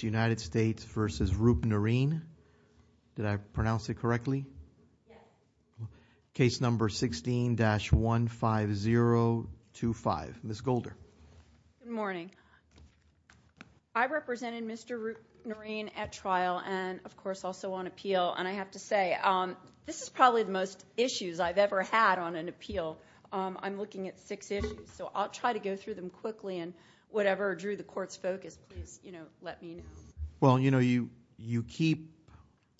United States v. Roopnarine. Did I pronounce it correctly? Case number 16-15025. Ms. Golder. Good morning. I represented Mr. Roopnarine at trial and, of course, also on appeal. And I have to say, this is probably the most issues I've ever had on an appeal. I'm looking at six issues. So I'll try to go through them quickly. And whatever drew the Court's focus, please, you know, let me know. Well, you know, you keep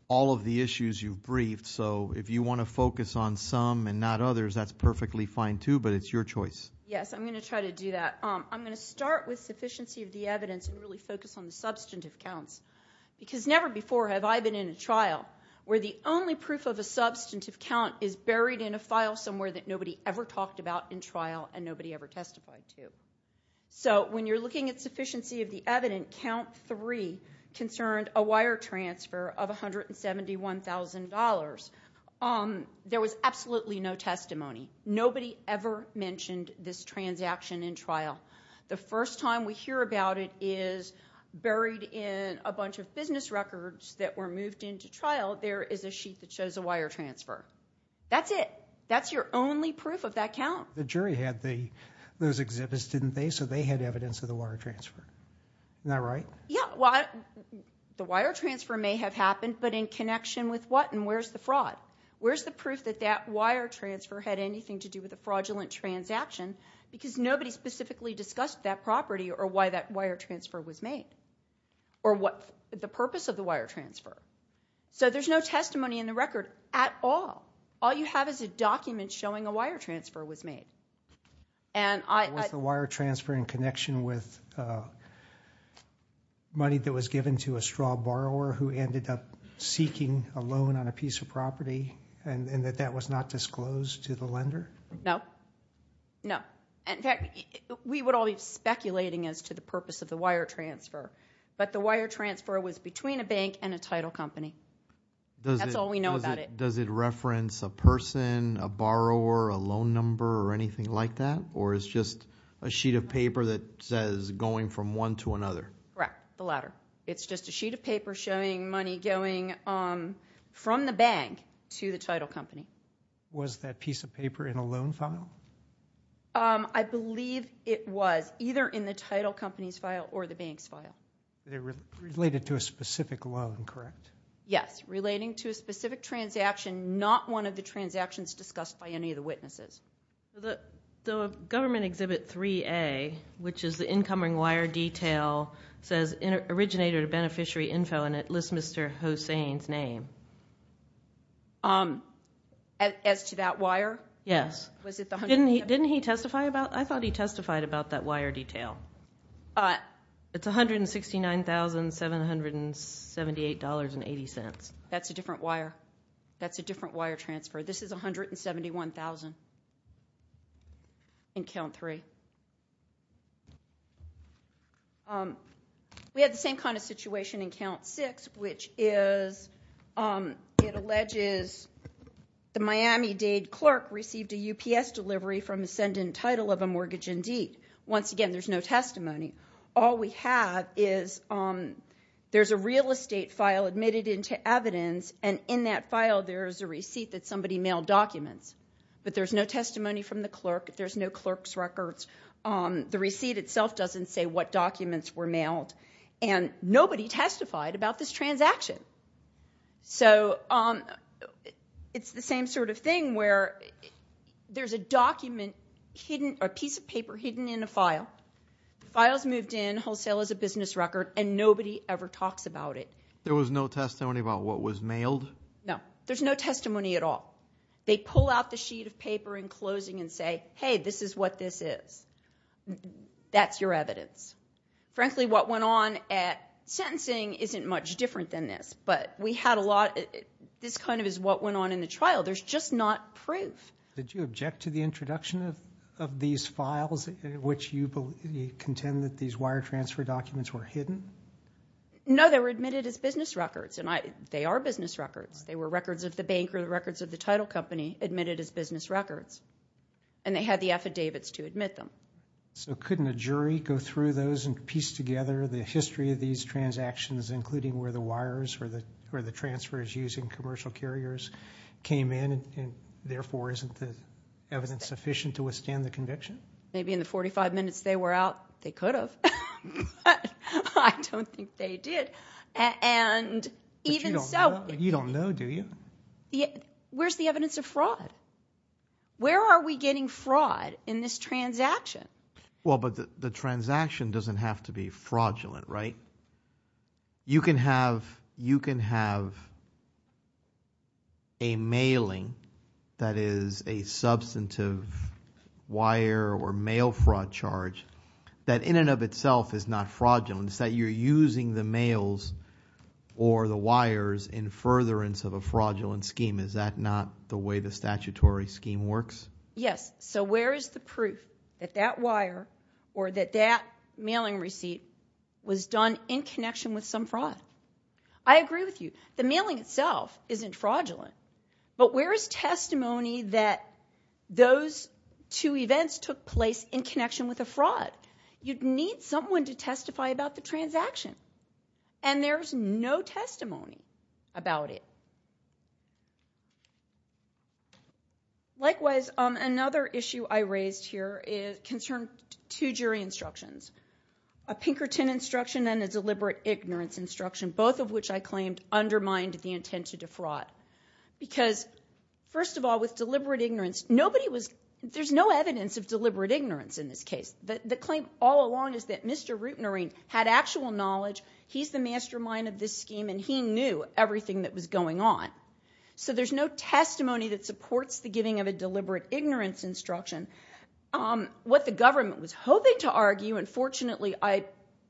all of the issues you've briefed. So if you want to focus on some and not others, that's perfectly fine, too. But it's your choice. Yes, I'm going to try to do that. I'm going to start with sufficiency of the evidence and really focus on the substantive counts. Because never before have I been in a trial where the only proof of a substantive count is buried in a file somewhere that nobody ever talked about in trial and nobody ever testified to. So when you're looking at sufficiency of the evidence, count three concerned a wire transfer of $171,000. There was absolutely no testimony. Nobody ever mentioned this transaction in trial. The first time we hear about it is buried in a bunch of business records that were moved into trial. There is a sheet that shows a wire transfer. That's it. That's your only proof of that count. The jury had those exhibits, didn't they? So they had evidence of the wire transfer. Isn't that right? Yeah. Well, the wire transfer may have happened, but in connection with what? And where's the fraud? Where's the proof that that wire transfer had anything to do with a fraudulent transaction? Because nobody specifically discussed that property or why that wire transfer was made. Or what the purpose of the wire transfer. So there's no testimony in the record at all. All you have is a document showing a wire transfer was made. And I- Was the wire transfer in connection with money that was given to a straw borrower who ended up seeking a loan on a piece of property and that that was not disclosed to the lender? No. No. In fact, we would all be speculating as to the purpose of the wire transfer, but the wire transfer was between a bank and a title company. That's all we know about it. Does it reference a person, a borrower, a loan number, or anything like that? Or is just a sheet of paper that says going from one to another? Correct. The latter. It's just a sheet of paper showing money going from the bank to the title company. Was that piece of paper in a loan file? I believe it was. Either in the title company's file or the bank's file. Related to a specific loan, correct? Yes. Relating to a specific transaction. Not one of the transactions discussed by any of the witnesses. The government exhibit 3A, which is the incoming wire detail, says originator to beneficiary info and it lists Mr. Hossain's name. As to that wire? Yes. Didn't he testify about it? I thought he testified about that wire detail. It's $169,778.80. That's a different wire. That's a different wire transfer. This is $171,000 in Count 3. We had the same kind of situation in Count 6, which is it alleges the Miami-Dade clerk received a UPS delivery from ascendant title of a mortgage indeed. Once again, there's no testimony. All we have is there's a real estate file admitted into evidence, and in that file there is a receipt that somebody mailed documents. But there's no testimony from the clerk. There's no clerk's records. The receipt itself doesn't say what documents were mailed. And nobody testified about this transaction. So it's the same sort of thing where there's a document, a piece of paper hidden in a file. The file's moved in, wholesale is a business record, and nobody ever talks about it. There was no testimony about what was mailed? No. There's no testimony at all. They pull out the sheet of paper in closing and say, hey, this is what this is. That's your evidence. Frankly, what went on at sentencing isn't much different than this. But we had a lot, this kind of is what went on in the trial. There's just not proof. Did you object to the introduction of these files in which you contend that these wire transfer documents were hidden? No, they were admitted as business records, and they are business records. They were records of the bank or records of the title company admitted as business records. And they had the affidavits to admit them. So couldn't a jury go through those and piece together the history of these transactions, including where the wires or the transfers using commercial carriers came in, and therefore isn't the evidence sufficient to withstand the conviction? Maybe in the 45 minutes they were out, they could have, but I don't think they did. But you don't know, do you? Where's the evidence of fraud? Where are we getting fraud in this transaction? Well, but the transaction doesn't have to be fraudulent, right? You can have a mailing that is a substantive wire or mail fraud charge that in and of itself is not fraudulent. It's that you're using the mails or the wires in furtherance of a fraudulent scheme. Is that not the way the statutory scheme works? Yes, so where is the proof that that wire or that that mailing receipt was done in connection with some fraud? I agree with you. The mailing itself isn't fraudulent. But where is testimony that those two events took place in connection with a fraud? You'd need someone to testify about the transaction. And there's no testimony about it. Likewise, another issue I raised here concerned two jury instructions. A Pinkerton instruction and a deliberate ignorance instruction, both of which I claimed undermined the intent to defraud. Because first of all, with deliberate ignorance, nobody was, there's no evidence of deliberate ignorance in this case. The claim all along is that Mr. Rootnarine had actual knowledge, he's the mastermind of this scheme, and he knew everything that was going on. So there's no testimony that supports the giving of a deliberate ignorance instruction. What the government was hoping to argue, and fortunately I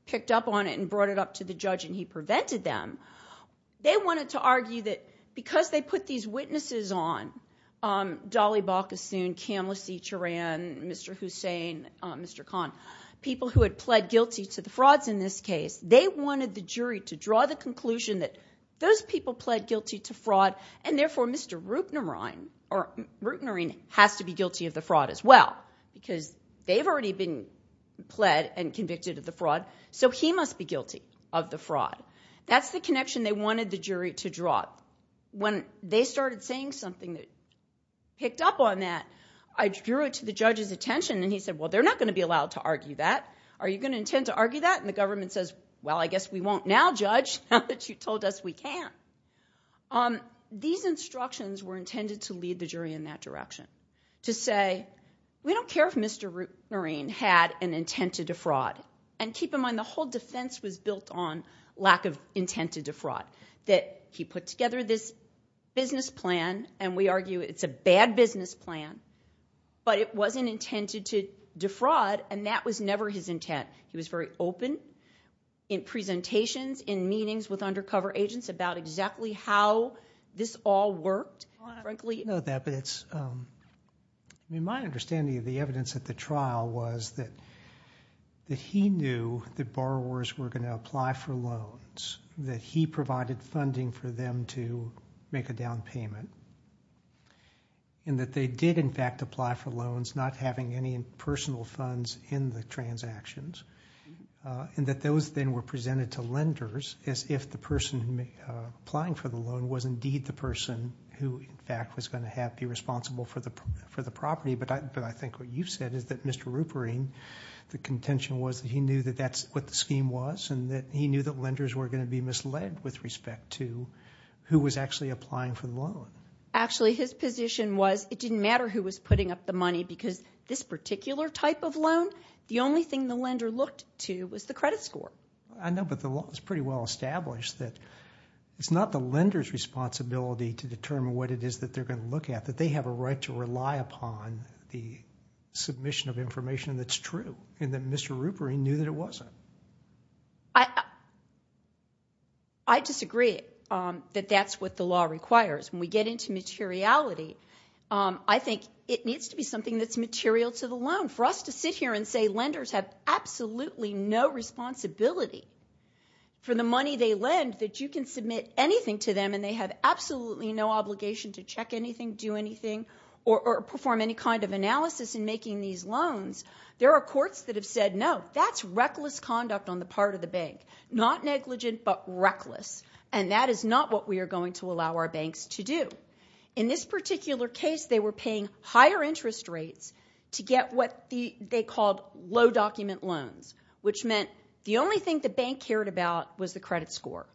picked up on it and brought it up to the judge and he prevented them. They wanted to argue that because they put these witnesses on, Dolly Balkasoon, Kamalaseet Charan, Mr. Hussain, Mr. Khan, people who had pled guilty to the frauds in this case. They wanted the jury to draw the conclusion that those people pled guilty to fraud and therefore Mr. Rootnarine has to be guilty of the fraud as well. Because they've already been pled and convicted of the fraud, so he must be guilty of the fraud. That's the connection they wanted the jury to draw. When they started saying something that picked up on that, I drew it to the judge's attention and he said, well, they're not going to be allowed to argue that. Are you going to intend to argue that? And the government says, well, I guess we won't now, judge, now that you told us we can. These instructions were intended to lead the jury in that direction. To say, we don't care if Mr. Rootnarine had an intent to defraud. And keep in mind, the whole defense was built on lack of intent to defraud. That he put together this business plan, and we argue it's a bad business plan. But it wasn't intended to defraud, and that was never his intent. He was very open in presentations, in meetings with undercover agents about exactly how this all worked, frankly. We know that, but it's, I mean, my understanding of the evidence at the trial was that he knew that borrowers were going to apply for loans, that he provided funding for them to make a down payment. And that they did, in fact, apply for loans, not having any personal funds in the transactions. And that those then were presented to lenders as if the person applying for the loan was indeed the person who, in fact, was going to be responsible for the property. But I think what you said is that Mr. Rootnarine, the contention was that he knew that that's what the scheme was. And that he knew that lenders were going to be misled with respect to who was actually applying for the loan. Actually, his position was it didn't matter who was putting up the money because this particular type of loan, the only thing the lender looked to was the credit score. I know, but the law is pretty well established that it's not the lender's responsibility to determine what it is that they're going to look at. That they have a right to rely upon the submission of information that's true. And that Mr. Rootnarine knew that it wasn't. I disagree that that's what the law requires. When we get into materiality, I think it needs to be something that's material to the loan. For us to sit here and say lenders have absolutely no responsibility for the money they lend, that you can submit anything to them and they have absolutely no obligation to check anything, do anything, or perform any kind of analysis in making these loans. There are courts that have said, no, that's reckless conduct on the part of the bank. Not negligent, but reckless. And that is not what we are going to allow our banks to do. In this particular case, they were paying higher interest rates to get what they called low-document loans. Which meant the only thing the bank cared about was the credit score.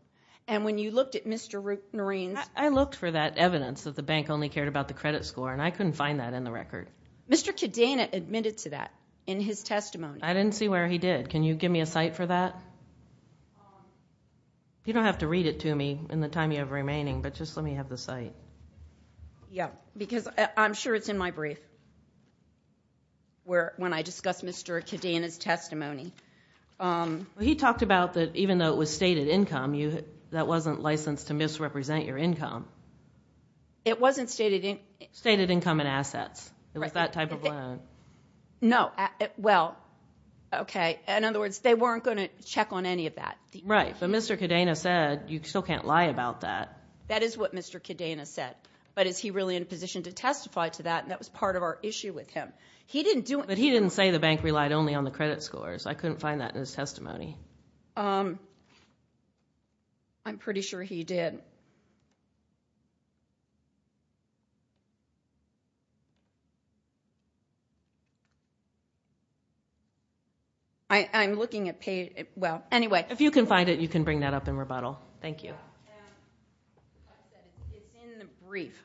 And when you looked at Mr. Rootnarine's- I looked for that evidence that the bank only cared about the credit score, and I couldn't find that in the record. Mr. Kadena admitted to that in his testimony. I didn't see where he did. Can you give me a cite for that? You don't have to read it to me in the time you have remaining, but just let me have the cite. Yeah, because I'm sure it's in my brief. Where, when I discuss Mr. Kadena's testimony. He talked about that even though it was stated income, that wasn't licensed to misrepresent your income. It wasn't stated- Stated income and assets. It was that type of loan. No, well, okay. In other words, they weren't going to check on any of that. Right, but Mr. Kadena said you still can't lie about that. That is what Mr. Kadena said. But is he really in a position to testify to that? And that was part of our issue with him. He didn't do- But he didn't say the bank relied only on the credit scores. I couldn't find that in his testimony. I'm pretty sure he did. I'm looking at page- Well, anyway. If you can find it, you can bring that up in rebuttal. Thank you. It's in the brief.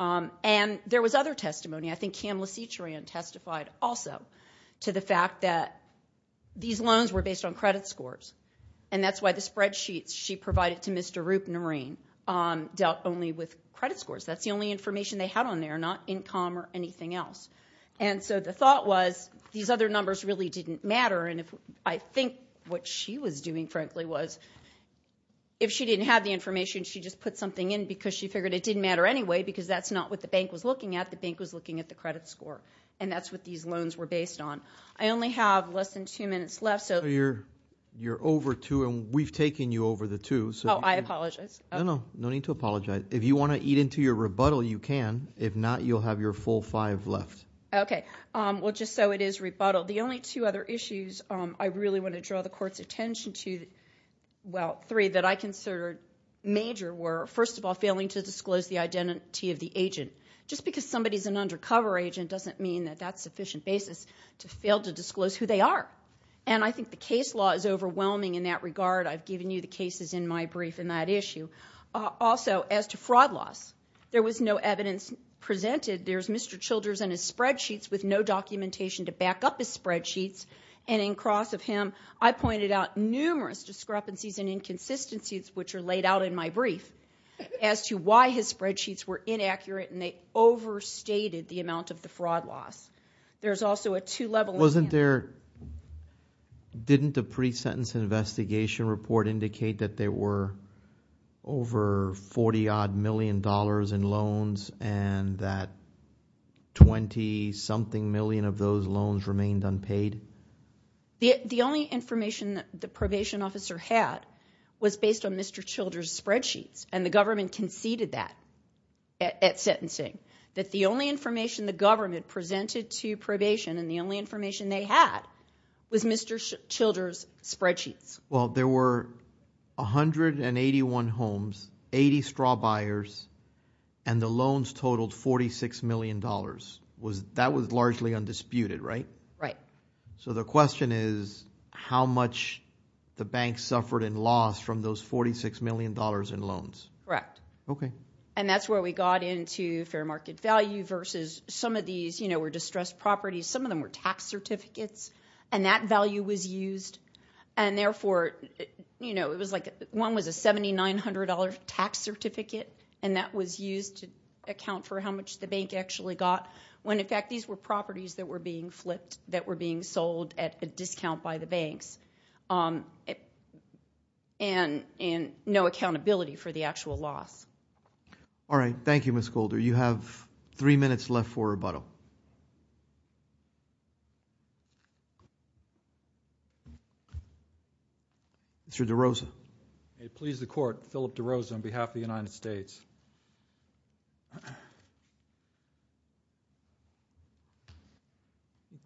And there was other testimony. I think Cam LaCetrian testified also to the fact that these loans were based on credit scores. And that's why the spreadsheets she provided to Mr. Roopnarain dealt only with credit scores. That's the only information they had on there, not income or anything else. And so the thought was these other numbers really didn't matter. And I think what she was doing, frankly, was if she didn't have the information, she just put something in because she figured it didn't matter anyway. Because that's not what the bank was looking at. The bank was looking at the credit score. And that's what these loans were based on. I only have less than two minutes left, so- You're over two, and we've taken you over the two. Oh, I apologize. No, no. No need to apologize. If you want to eat into your rebuttal, you can. If not, you'll have your full five left. Okay. Well, just so it is rebuttal. The only two other issues I really want to draw the Court's attention to, well, three that I consider major were, first of all, failing to disclose the identity of the agent. Just because somebody's an undercover agent doesn't mean that that's sufficient basis to fail to disclose who they are. And I think the case law is overwhelming in that regard. I've given you the cases in my brief in that issue. Also, as to fraud loss, there was no evidence presented. There's Mr. Childers and his spreadsheets with no documentation to back up his spreadsheets. And in cross of him, I pointed out numerous discrepancies and inconsistencies, which are laid out in my brief, as to why his spreadsheets were inaccurate and they overstated the amount of the fraud loss. There's also a two-level- But there, didn't the pre-sentence investigation report indicate that there were over $40-odd million in loans and that 20-something million of those loans remained unpaid? The only information that the probation officer had was based on Mr. Childers' spreadsheets. And the government conceded that at sentencing. That the only information the government presented to probation and the only information they had was Mr. Childers' spreadsheets. Well, there were 181 homes, 80 straw buyers, and the loans totaled $46 million. That was largely undisputed, right? Right. So the question is, how much the bank suffered and lost from those $46 million in loans? Correct. Okay. And that's where we got into fair market value versus some of these, you know, were distressed properties. Some of them were tax certificates. And that value was used. And therefore, you know, it was like one was a $7,900 tax certificate. And that was used to account for how much the bank actually got. When, in fact, these were properties that were being flipped, that were being sold at a discount by the banks. And no accountability for the actual loss. All right. Thank you, Ms. Golder. You have three minutes left for rebuttal. Mr. DeRosa. May it please the court, Philip DeRosa on behalf of the United States.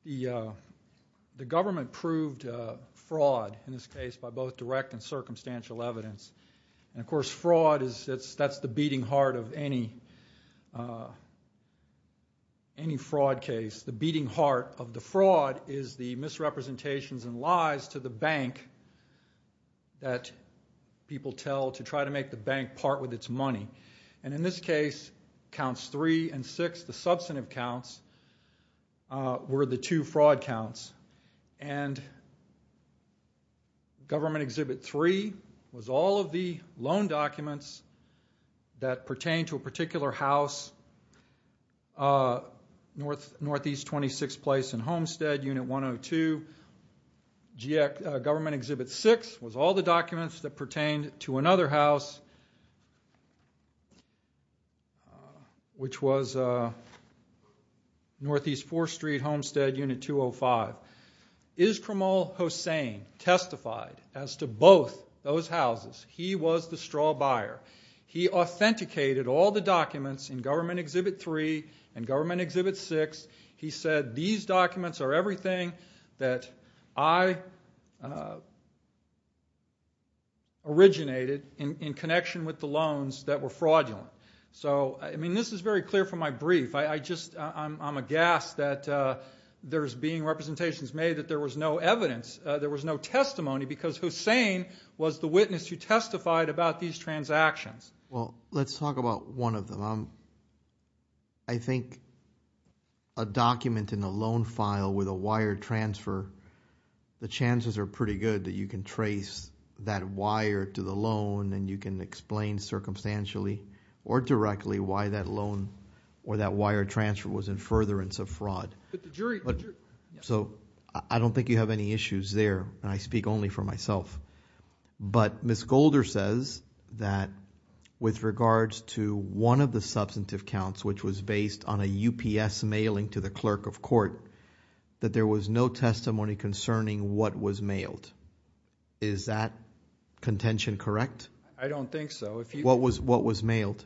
The government proved fraud in this case by both direct and circumstantial evidence. And of course, fraud is, that's the beating heart of any fraud case. The beating heart of the fraud is the misrepresentations and lies to the bank that people tell to try to make the bank part with its money. And in this case, counts three and six. The substantive counts were the two fraud counts. And Government Exhibit 3 was all of the loan documents that pertain to a particular house, Northeast 26th Place in Homestead, Unit 102. Government Exhibit 6 was all the documents that pertain to another house, which was Northeast 4th Street Homestead, Unit 205. Iskramul Hossain testified as to both those houses. He was the straw buyer. He authenticated all the documents in Government Exhibit 3 and Government Exhibit 6. He said, these documents are everything that I originated in connection with the loans that were fraudulent. So, I mean, this is very clear from my brief. I just, I'm aghast that there's being representations made that there was no evidence, there was no testimony because Hossain was the witness who testified about these transactions. Well, let's talk about one of them. I think a document in a loan file with a wire transfer, the chances are pretty good that you can trace that wire to the loan and you can explain circumstantially or directly why that loan or that wire transfer was in furtherance of fraud. So I don't think you have any issues there and I speak only for myself. But Ms. Golder says that with regards to one of the substantive counts, which was based on a UPS mailing to the clerk of court, that there was no testimony concerning what was mailed. Is that contention correct? I don't think so. What was mailed?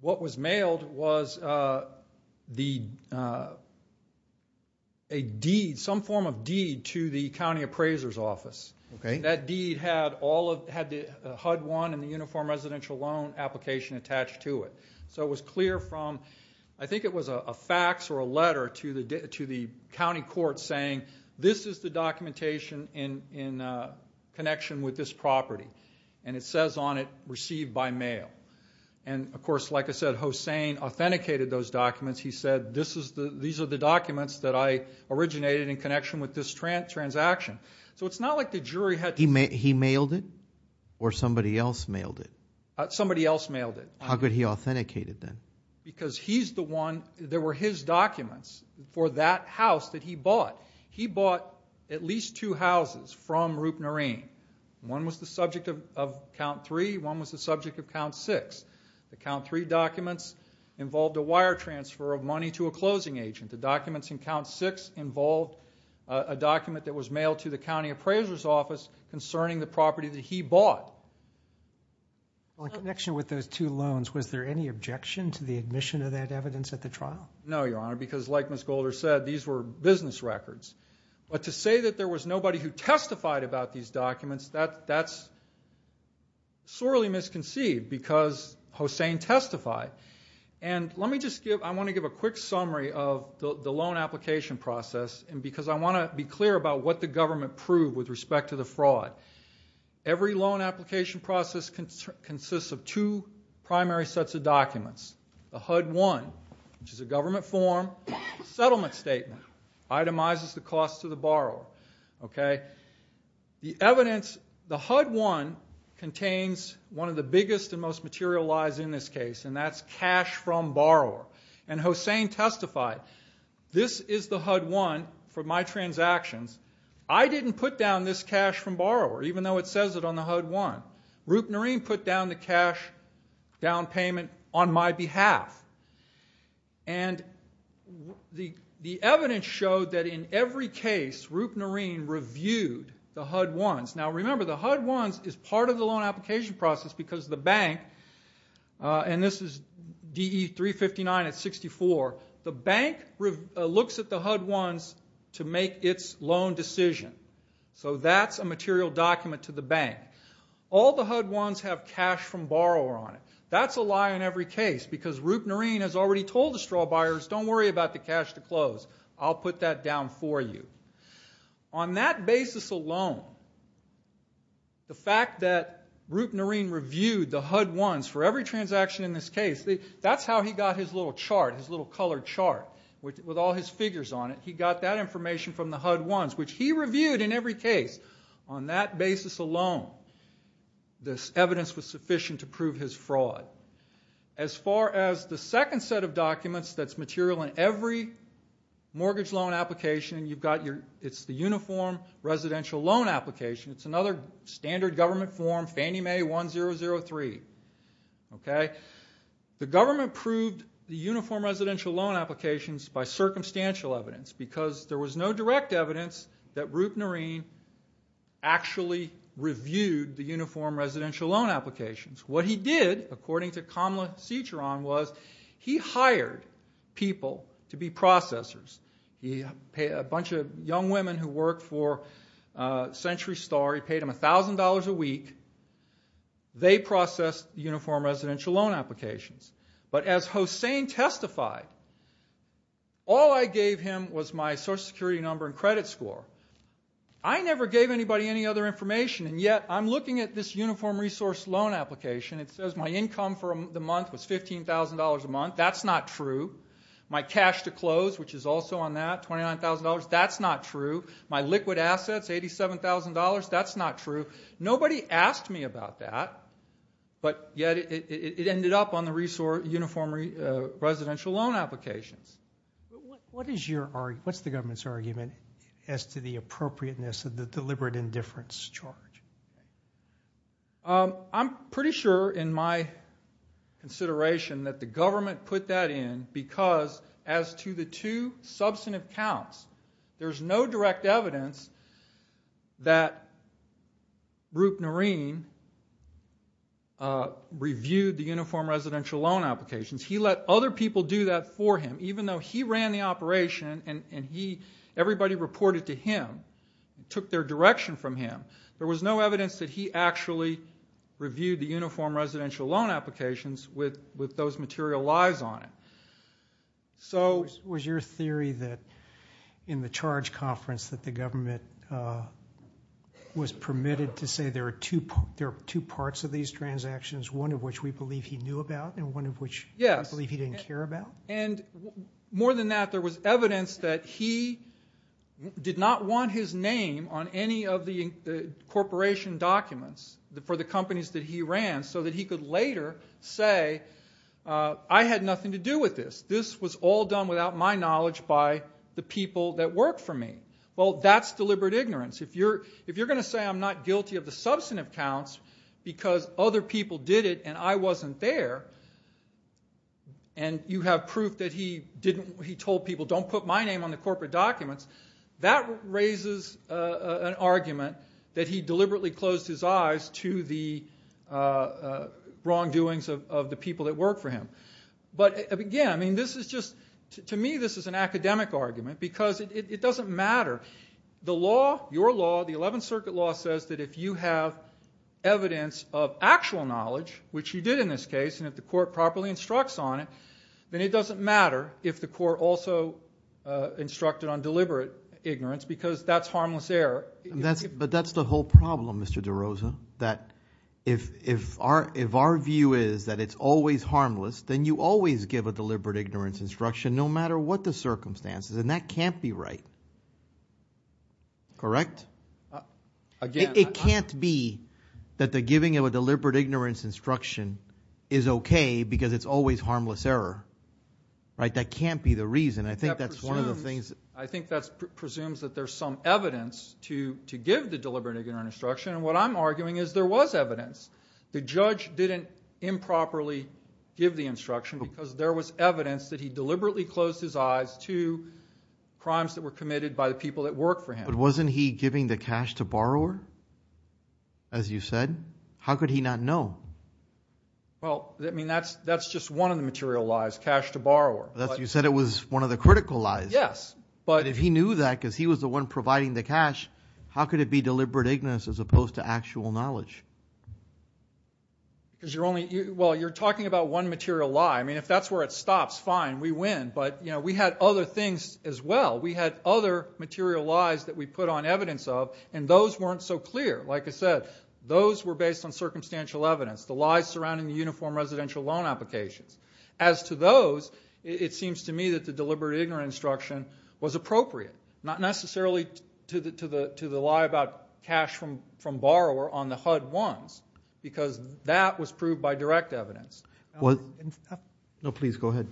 What was mailed was a deed, some form of deed to the county appraiser's office. That deed had HUD 1 and the uniform residential loan application attached to it. So it was clear from, I think it was a fax or a letter to the county court saying, this is the documentation in connection with this property. And it says on it, received by mail. And of course, like I said, Hossain authenticated those documents. He said, these are the documents that I originated in connection with this transaction. So it's not like the jury had to- He mailed it or somebody else mailed it? Somebody else mailed it. How could he authenticate it then? Because he's the one, there were his documents for that house that he bought. He bought at least two houses from Roopnarine. One was the subject of count three. One was the subject of count six. The count three documents involved a wire transfer of money to a closing agent. The documents in count six involved a document that was mailed to the county appraiser's office concerning the property that he bought. In connection with those two loans, was there any objection to the admission of that evidence at the trial? No, Your Honor, because like Ms. Golder said, these were business records. But to say that there was nobody who testified about these documents, that's sorely misconceived because Hossain testified. And let me just give, I want to give a quick summary of the loan application process because I want to be clear about what the government proved with respect to the fraud. Every loan application process consists of two primary sets of documents. The HUD-1, which is a government form, settlement statement, itemizes the cost to the borrower. Okay? The evidence, the HUD-1 contains one of the biggest and most material lies in this case, and that's cash from borrower. And Hossain testified, this is the HUD-1 for my transactions. I didn't put down this cash from borrower, even though it says it on the HUD-1. Roopnarine put down the cash down payment on my behalf. And the evidence showed that in every case, Roopnarine reviewed the HUD-1s. Now remember, the HUD-1s is part of the loan application process because the bank, and this is DE-359 at 64, the bank looks at the HUD-1s to make its loan decision. So that's a material document to the bank. All the HUD-1s have cash from borrower on it. That's a lie in every case because Roopnarine has already told the straw buyers, don't worry about the cash to close. I'll put that down for you. On that basis alone, the fact that Roopnarine reviewed the HUD-1s for every transaction in this case, that's how he got his little chart, his little colored chart with all his figures on it. He got that information from the HUD-1s, which he reviewed in every case. On that basis alone, this evidence was sufficient to prove his fraud. As far as the second set of documents that's material in every mortgage loan application, it's the Uniform Residential Loan Application. It's another standard government form, Fannie Mae 1003. The government proved the Uniform Residential Loan Applications by circumstantial evidence because there was no direct evidence that Roopnarine actually reviewed the Uniform Residential Loan Applications. What he did, according to Kamla Cichron, was he hired people to be processors. He hired a bunch of young women who worked for Century Star. He paid them $1,000 a week. They processed the Uniform Residential Loan Applications. But as Hossain testified, all I gave him was my Social Security number and credit score. I never gave anybody any other information, and yet I'm looking at this Uniform Resource Loan Application. It says my income for the month was $15,000 a month. That's not true. My cash to close, which is also on that, $29,000, that's not true. My liquid assets, $87,000, that's not true. Nobody asked me about that, but yet it ended up on the Uniform Residential Loan Applications. What's the government's argument as to the appropriateness of the deliberate indifference charge? I'm pretty sure in my consideration that the government put that in because as to the two substantive counts, there's no direct evidence that Rup Noreen reviewed the Uniform Residential Loan Applications. He let other people do that for him, even though he ran the operation and everybody reported to him, took their direction from him. There was no evidence that he actually reviewed the Uniform Residential Loan Applications with those material lies on it. Was your theory that in the charge conference that the government was permitted to say there are two parts of these transactions, one of which we believe he knew about and one of which we believe he didn't care about? More than that, there was evidence that he did not want his name on any of the corporation documents for the companies that he ran so that he could later say, I had nothing to do with this. This was all done without my knowledge by the people that worked for me. Well, that's deliberate ignorance. If you're going to say I'm not guilty of the substantive counts because other people did it and I wasn't there and you have proof that he told people don't put my name on the corporate documents, that raises an argument that he deliberately closed his eyes to the wrongdoings of the people that worked for him. But again, to me this is an academic argument because it doesn't matter. The law, your law, the Eleventh Circuit law says that if you have evidence of actual knowledge, which you did in this case, and if the court properly instructs on it, then it doesn't matter if the court also instructed on deliberate ignorance because that's harmless error. But that's the whole problem, Mr. De Rosa, that if our view is that it's always harmless, then you always give a deliberate ignorance instruction no matter what the circumstances, and that can't be right. Correct? It can't be that the giving of a deliberate ignorance instruction is okay because it's always harmless error. That can't be the reason. I think that presumes that there's some evidence to give the deliberate ignorance instruction, and what I'm arguing is there was evidence. The judge didn't improperly give the instruction because there was evidence that he deliberately closed his eyes to crimes that were committed by the people that worked for him. But wasn't he giving the cash to borrower, as you said? How could he not know? Well, I mean that's just one of the material lies, cash to borrower. You said it was one of the critical lies. Yes. But if he knew that because he was the one providing the cash, how could it be deliberate ignorance as opposed to actual knowledge? Well, you're talking about one material lie. I mean, if that's where it stops, fine. We win. But we had other things as well. We had other material lies that we put on evidence of, and those weren't so clear. Like I said, those were based on circumstantial evidence, the lies surrounding the uniform residential loan applications. As to those, it seems to me that the deliberate ignorance instruction was appropriate, not necessarily to the lie about cash from borrower on the HUD-1s, because that was proved by direct evidence. No, please, go ahead.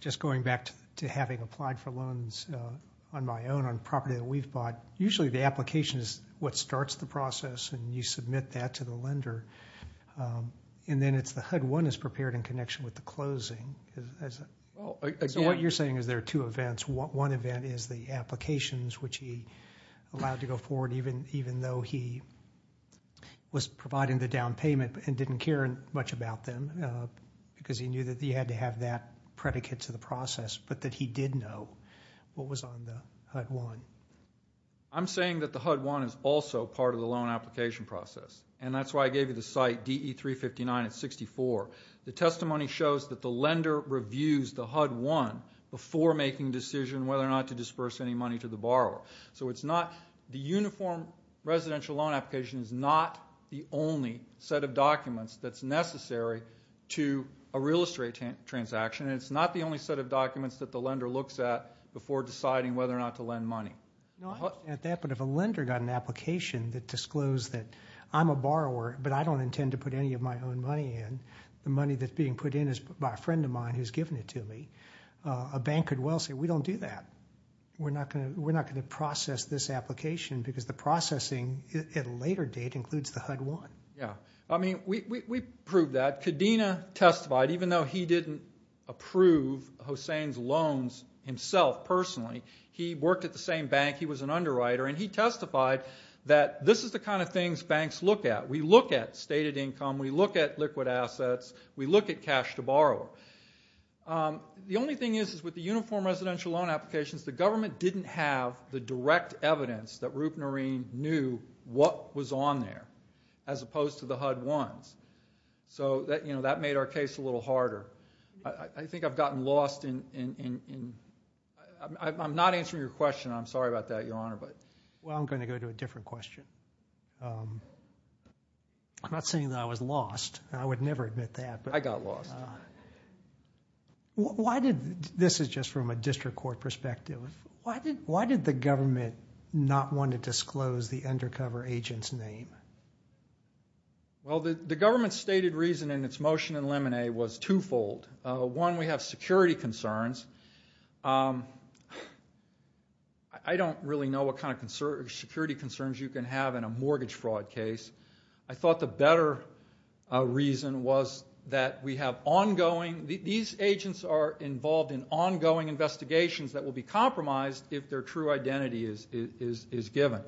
Just going back to having applied for loans on my own on property that we've bought, usually the application is what starts the process, and you submit that to the lender. And then it's the HUD-1 is prepared in connection with the closing. So what you're saying is there are two events. One event is the applications, which he allowed to go forward, even though he was providing the down payment and didn't care much about them, because he knew that he had to have that predicate to the process, but that he did know what was on the HUD-1. I'm saying that the HUD-1 is also part of the loan application process, and that's why I gave you the site DE-359 at 64. The testimony shows that the lender reviews the HUD-1 before making a decision whether or not to disperse any money to the borrower. So the uniform residential loan application is not the only set of documents that's necessary to a real estate transaction, and it's not the only set of documents that the lender looks at before deciding whether or not to lend money. No, I understand that, but if a lender got an application that disclosed that I'm a borrower, but I don't intend to put any of my own money in, the money that's being put in is by a friend of mine who's given it to me, a bank could well say, we don't do that. We're not going to process this application, because the processing at a later date includes the HUD-1. Yeah, I mean, we proved that. Kadena testified, even though he didn't approve Hossain's loans himself personally, he worked at the same bank, he was an underwriter, and he testified that this is the kind of things banks look at. We look at stated income, we look at liquid assets, we look at cash to borrower. The only thing is, is with the uniform residential loan applications, the government didn't have the direct evidence that Roopnarine knew what was on there, as opposed to the HUD-1s. So that made our case a little harder. I think I've gotten lost in... I'm not answering your question. I'm sorry about that, Your Honor. Well, I'm going to go to a different question. I'm not saying that I was lost. I would never admit that. I got lost. This is just from a district court perspective. Why did the government not want to disclose the undercover agent's name? Well, the government's stated reason in its motion in Lemonet was twofold. One, we have security concerns. I don't really know what kind of security concerns you can have in a mortgage fraud case. I thought the better reason was that we have ongoing... These agents are involved in ongoing investigations that will be compromised if their true identity is given.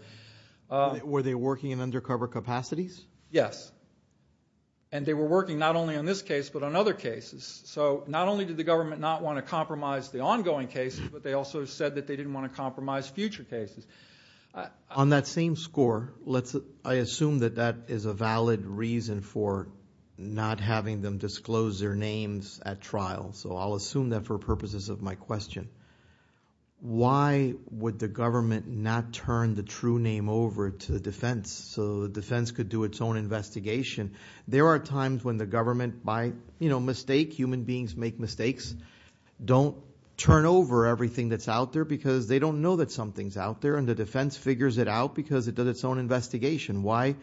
Were they working in undercover capacities? Yes. And they were working not only on this case, but on other cases. So not only did the government not want to compromise the ongoing cases, but they also said that they didn't want to compromise future cases. On that same score, I assume that that is a valid reason for not having them disclose their names at trial. So I'll assume that for purposes of my question. Why would the government not turn the true name over to the defense so the defense could do its own investigation? There are times when the government by mistake, human beings make mistakes, don't turn over everything that's out there because they don't know that something's out there and the defense figures it out because it does its own investigation. Why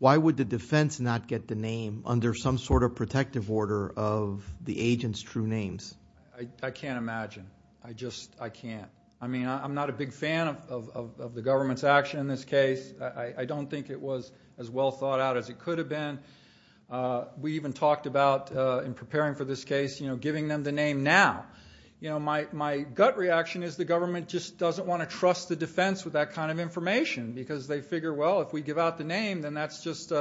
would the defense not get the name under some sort of protective order of the agent's true names? I can't imagine. I just can't. I mean, I'm not a big fan of the government's action in this case. I don't think it was as well thought out as it could have been. We even talked about, in preparing for this case, giving them the name now. My gut reaction is the government just doesn't want to trust the defense with that kind of information because they figure, well, if we give out the name, then that's just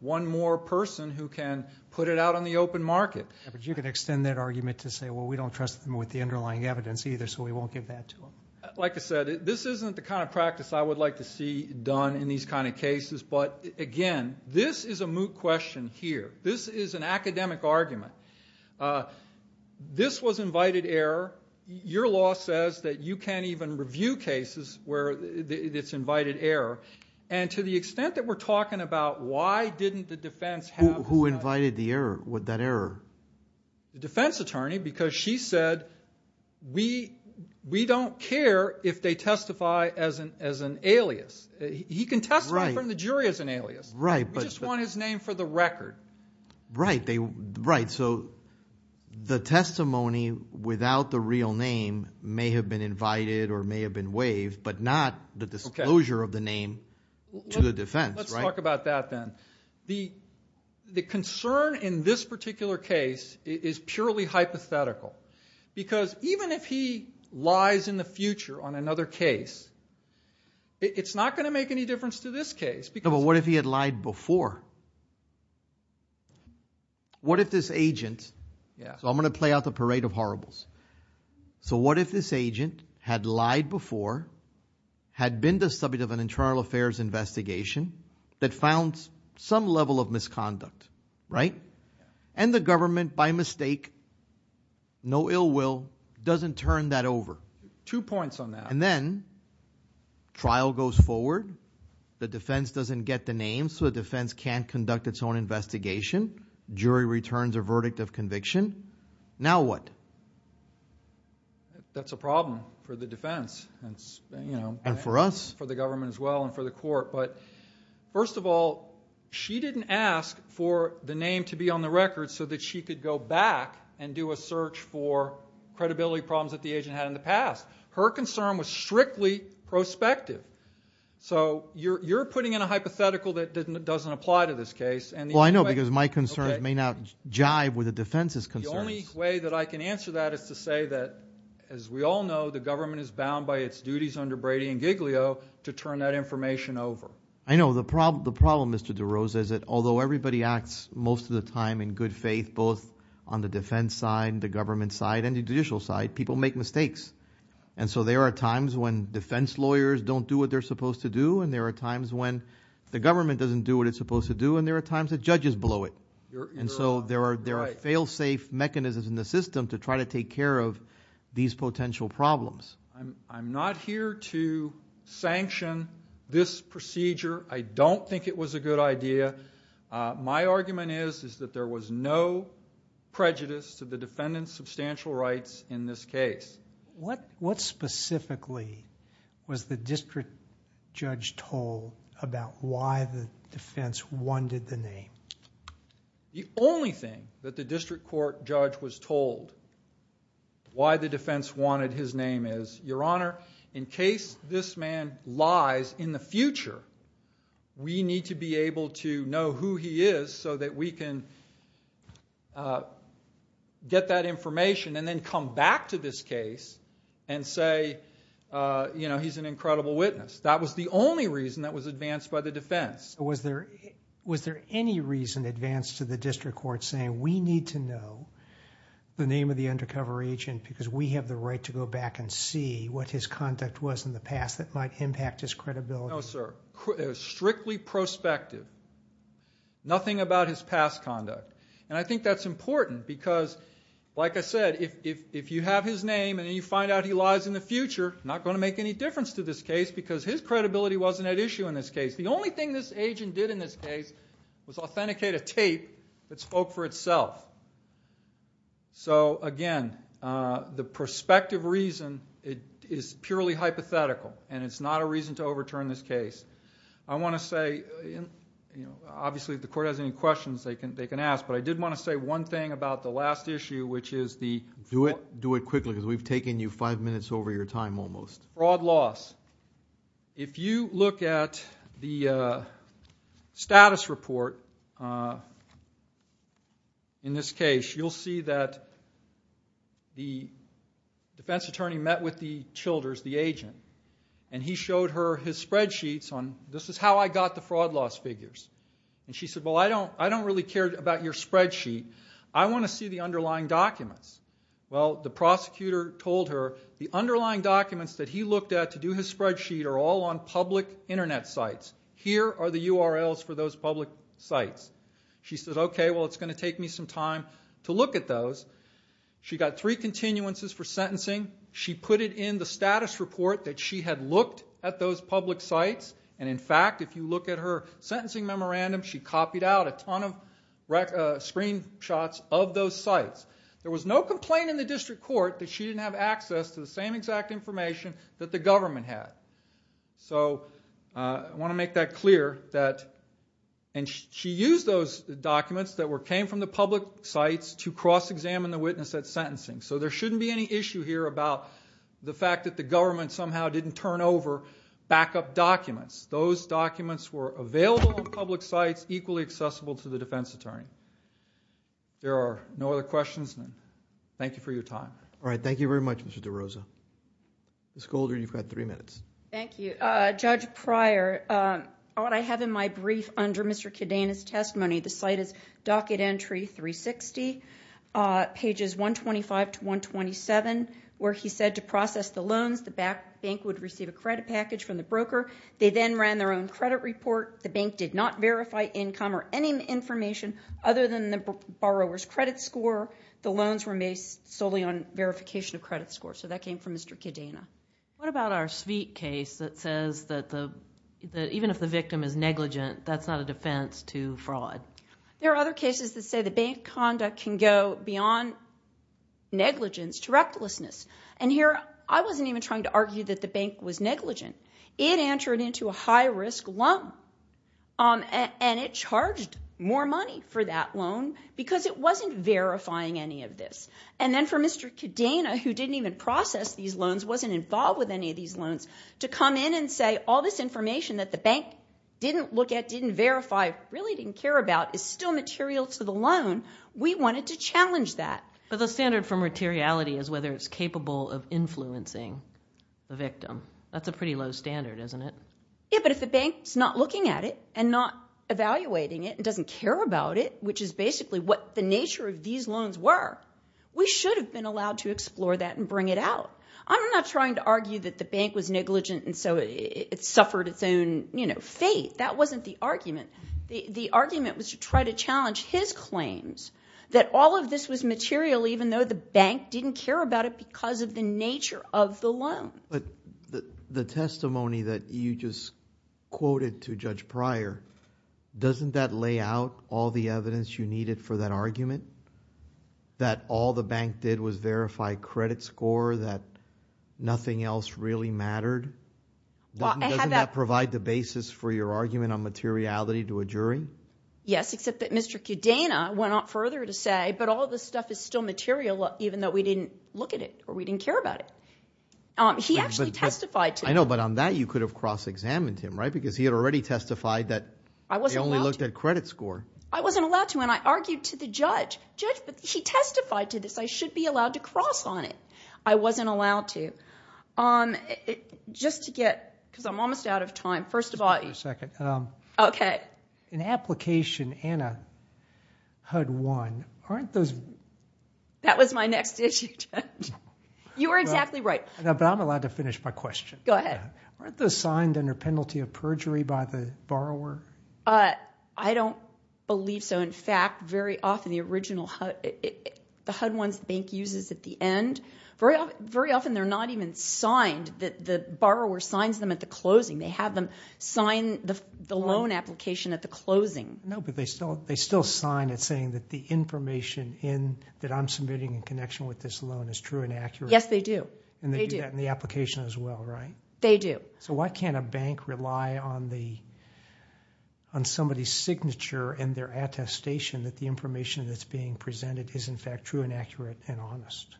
one more person who can put it out on the open market. But you could extend that argument to say, well, we don't trust them with the underlying evidence either, so we won't give that to them. Like I said, this isn't the kind of practice I would like to see done in these kind of cases, but again, this is a moot question here. This is an academic argument. This was invited error. Your law says that you can't even review cases where it's invited error. And to the extent that we're talking about why didn't the defense have... Who invited that error? The defense attorney because she said, we don't care if they testify as an alias. He can testify in front of the jury as an alias. We just want his name for the record. Right. So the testimony without the real name may have been invited or may have been waived, but not the disclosure of the name to the defense. Let's talk about that then. The concern in this particular case is purely hypothetical. Because even if he lies in the future on another case, it's not going to make any difference to this case. But what if he had lied before? What if this agent... So I'm going to play out the parade of horribles. So what if this agent had lied before, had been the subject of an internal affairs investigation that found some level of misconduct, right? And the government, by mistake, no ill will, doesn't turn that over? Two points on that. And then trial goes forward. The defense doesn't get the name, so the defense can't conduct its own investigation. Jury returns a verdict of conviction. Now what? That's a problem for the defense. And for us. For the government as well, and for the court. But first of all, she didn't ask for the name to be on the record so that she could go back and do a search for credibility problems that the agent had in the past. Her concern was strictly prospective. So you're putting in a hypothetical that doesn't apply to this case. Well, I know, because my concerns may not jive with the defense's concerns. The only way that I can answer that is to say that, as we all know, the government is bound by its duties under Brady and Giglio to turn that information over. I know. The problem, Mr. DeRosa, is that although everybody acts most of the time in good faith, both on the defense side, the government side, and the judicial side, people make mistakes. And so there are times when defense lawyers don't do what they're supposed to do, and there are times when the government doesn't do what it's supposed to do, and there are times that judges blow it. And so there are fail-safe mechanisms in the system to try to take care of these potential problems. I'm not here to sanction this procedure. I don't think it was a good idea. My argument is that there was no prejudice to the defendant's substantial rights in this case. What specifically was the district judge told about why the defense wanted the name? The only thing that the district court judge was told why the defense wanted his name is, Your Honor, in case this man lies in the future, we need to be able to know who he is so that we can get that information and then come back to this case and say, you know, he's an incredible witness. That was the only reason that was advanced by the defense. Was there any reason advanced to the district court saying we need to know the name of the undercover agent because we have the right to go back and see what his conduct was in the past that might impact his credibility? No, sir. It was strictly prospective. Nothing about his past conduct. And I think that's important because, like I said, if you have his name and you find out he lies in the future, not going to make any difference to this case because his credibility wasn't at issue in this case. The only thing this agent did in this case was authenticate a tape that spoke for itself. So, again, the prospective reason is purely hypothetical and it's not a reason to overturn this case. I want to say, obviously, if the court has any questions, they can ask, but I did want to say one thing about the last issue, which is the... if you look at the status report in this case, you'll see that the defense attorney met with the Childers, the agent, and he showed her his spreadsheets on, this is how I got the fraud loss figures. And she said, well, I don't really care about your spreadsheet. I want to see the underlying documents. Well, the prosecutor told her the underlying documents that he looked at to do his spreadsheet are all on public Internet sites. Here are the URLs for those public sites. She said, okay, well, it's going to take me some time to look at those. She got three continuances for sentencing. She put it in the status report that she had looked at those public sites. And, in fact, if you look at her sentencing memorandum, she copied out a ton of screen shots of those sites. There was no complaint in the district court that she didn't have access to the same exact information that the government had. I want to make that clear. She used those documents that came from the public sites to cross-examine the witness at sentencing. So there shouldn't be any issue here about the fact that the government somehow didn't turn over backup documents. Those documents were available on public sites, equally accessible to the defense attorney. There are no other questions. Thank you for your time. All right. Thank you very much, Mr. DeRosa. Ms. Golder, you've got three minutes. Thank you. Judge Pryor, what I have in my brief under Mr. Cadena's testimony, the site is Docket Entry 360, pages 125 to 127, where he said to process the loans, the bank would receive a credit package from the broker. They then ran their own credit report. The bank did not verify income or any information other than the borrower's credit score. The loans were based solely on verification of credit score. So that came from Mr. Cadena. What about our suite case that says that even if the victim is negligent, that's not a defense to fraud? There are other cases that say the bank conduct can go beyond negligence to recklessness. And here, I wasn't even trying to argue that the bank was negligent. It entered into a high-risk loan. And it charged more money for that loan because it wasn't verifying any of this. And then for Mr. Cadena, who didn't even process these loans, wasn't involved with any of these loans, to come in and say all this information that the bank didn't look at, didn't verify, really didn't care about is still material to the loan. We wanted to challenge that. But the standard for materiality is whether it's capable of influencing the victim. That's a pretty low standard, isn't it? Yeah, but if the bank's not looking at it and not evaluating it and doesn't care about it, which is basically what the nature of these loans were, we should have been allowed to explore that and bring it out. I'm not trying to argue that the bank was negligent and so it suffered its own fate. That wasn't the argument. The argument was to try to challenge his claims that all of this was material even though the bank didn't care about it because of the nature of the loan. But the testimony that you just quoted to Judge Pryor, doesn't that lay out all the evidence you needed for that argument? That all the bank did was verify credit score, that nothing else really mattered? Doesn't that provide the basis for your argument on materiality to a jury? Yes, except that Mr. Kudena went on further to say that all this stuff is still material even though we didn't look at it or we didn't care about it. He actually testified to it. I know, but on that you could have cross-examined him, right? Because he had already testified that he only looked at credit score. I wasn't allowed to and I argued to the judge. Judge, but he testified to this. I should be allowed to cross on it. I wasn't allowed to. Just to get, because I'm almost out of time. Just a second. An application Anna had won, aren't those... That was my next issue, Judge. You were exactly right. But I'm allowed to finish my question. Aren't those signed under penalty of perjury by the borrower? I don't believe so. In fact, very often the original HUD, the HUD ones the bank uses at the end, very often they're not even signed. The borrower signs them at the closing. They have them sign the loan application at the closing. No, but they still sign it saying that the information that I'm submitting in connection with this loan is true and accurate. Yes, they do. They do that in the application as well, right? They do. So why can't a bank rely on somebody's signature and their attestation that the information that's being presented is in fact true and accurate and honest?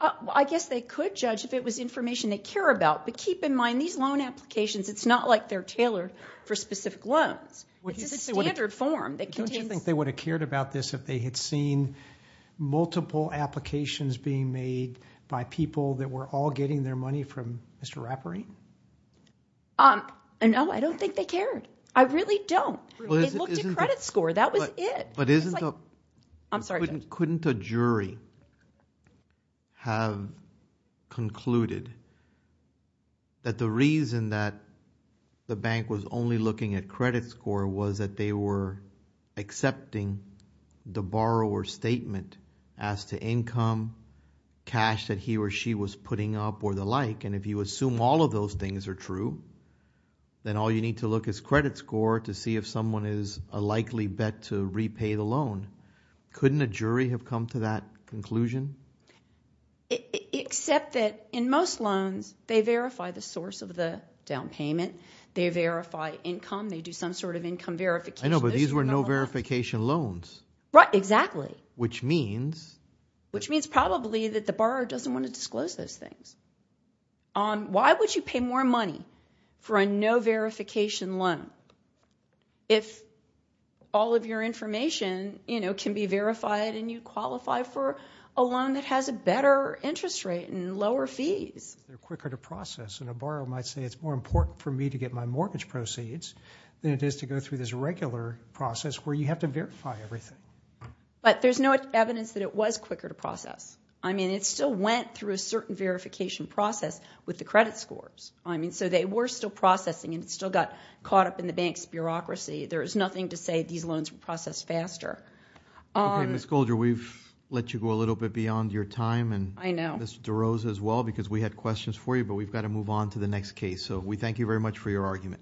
I guess they could judge if it was information they care about, but keep in mind these loan applications, it's not like they're tailored for specific loans. It's a standard form that contains... Don't you think they would have cared about this if they had seen multiple applications being made by people that were all getting their money from Mr. Raperine? No, I don't think they cared. I really don't. It looked at credit score. That was it. Couldn't a jury have concluded that the reason that the bank was only looking at credit score was that they were accepting the borrower's statement as to income, cash that he or she was putting up, or the like, and if you assume all of those things are true, then all you need to look is credit score to see if someone is a likely bet to repay the loan. Couldn't a jury have come to that conclusion? Except that in most loans, they verify the source of the down payment, they verify income, they do some sort of income verification. I know, but these were no-verification loans. Which means probably that the borrower doesn't want to disclose those things. Why would you pay more money for a no-verification loan if all of your information can be verified and you qualify for a loan that has a better interest rate and lower fees? They're quicker to process, and a borrower might say it's more important for me to get my mortgage proceeds than it is to go through this regular process where you have to verify everything. But there's no evidence that it was quicker to process. I mean, it still went through a certain verification process with the credit scores. I mean, so they were still processing, and it still got caught up in the bank's bureaucracy. There's nothing to say these loans were processed faster. Okay, Ms. Goldger, we've let you go a little bit beyond your time, and Ms. DeRose as well, because we had questions for you, but we've got to move on to the next case. So we thank you very much for your argument.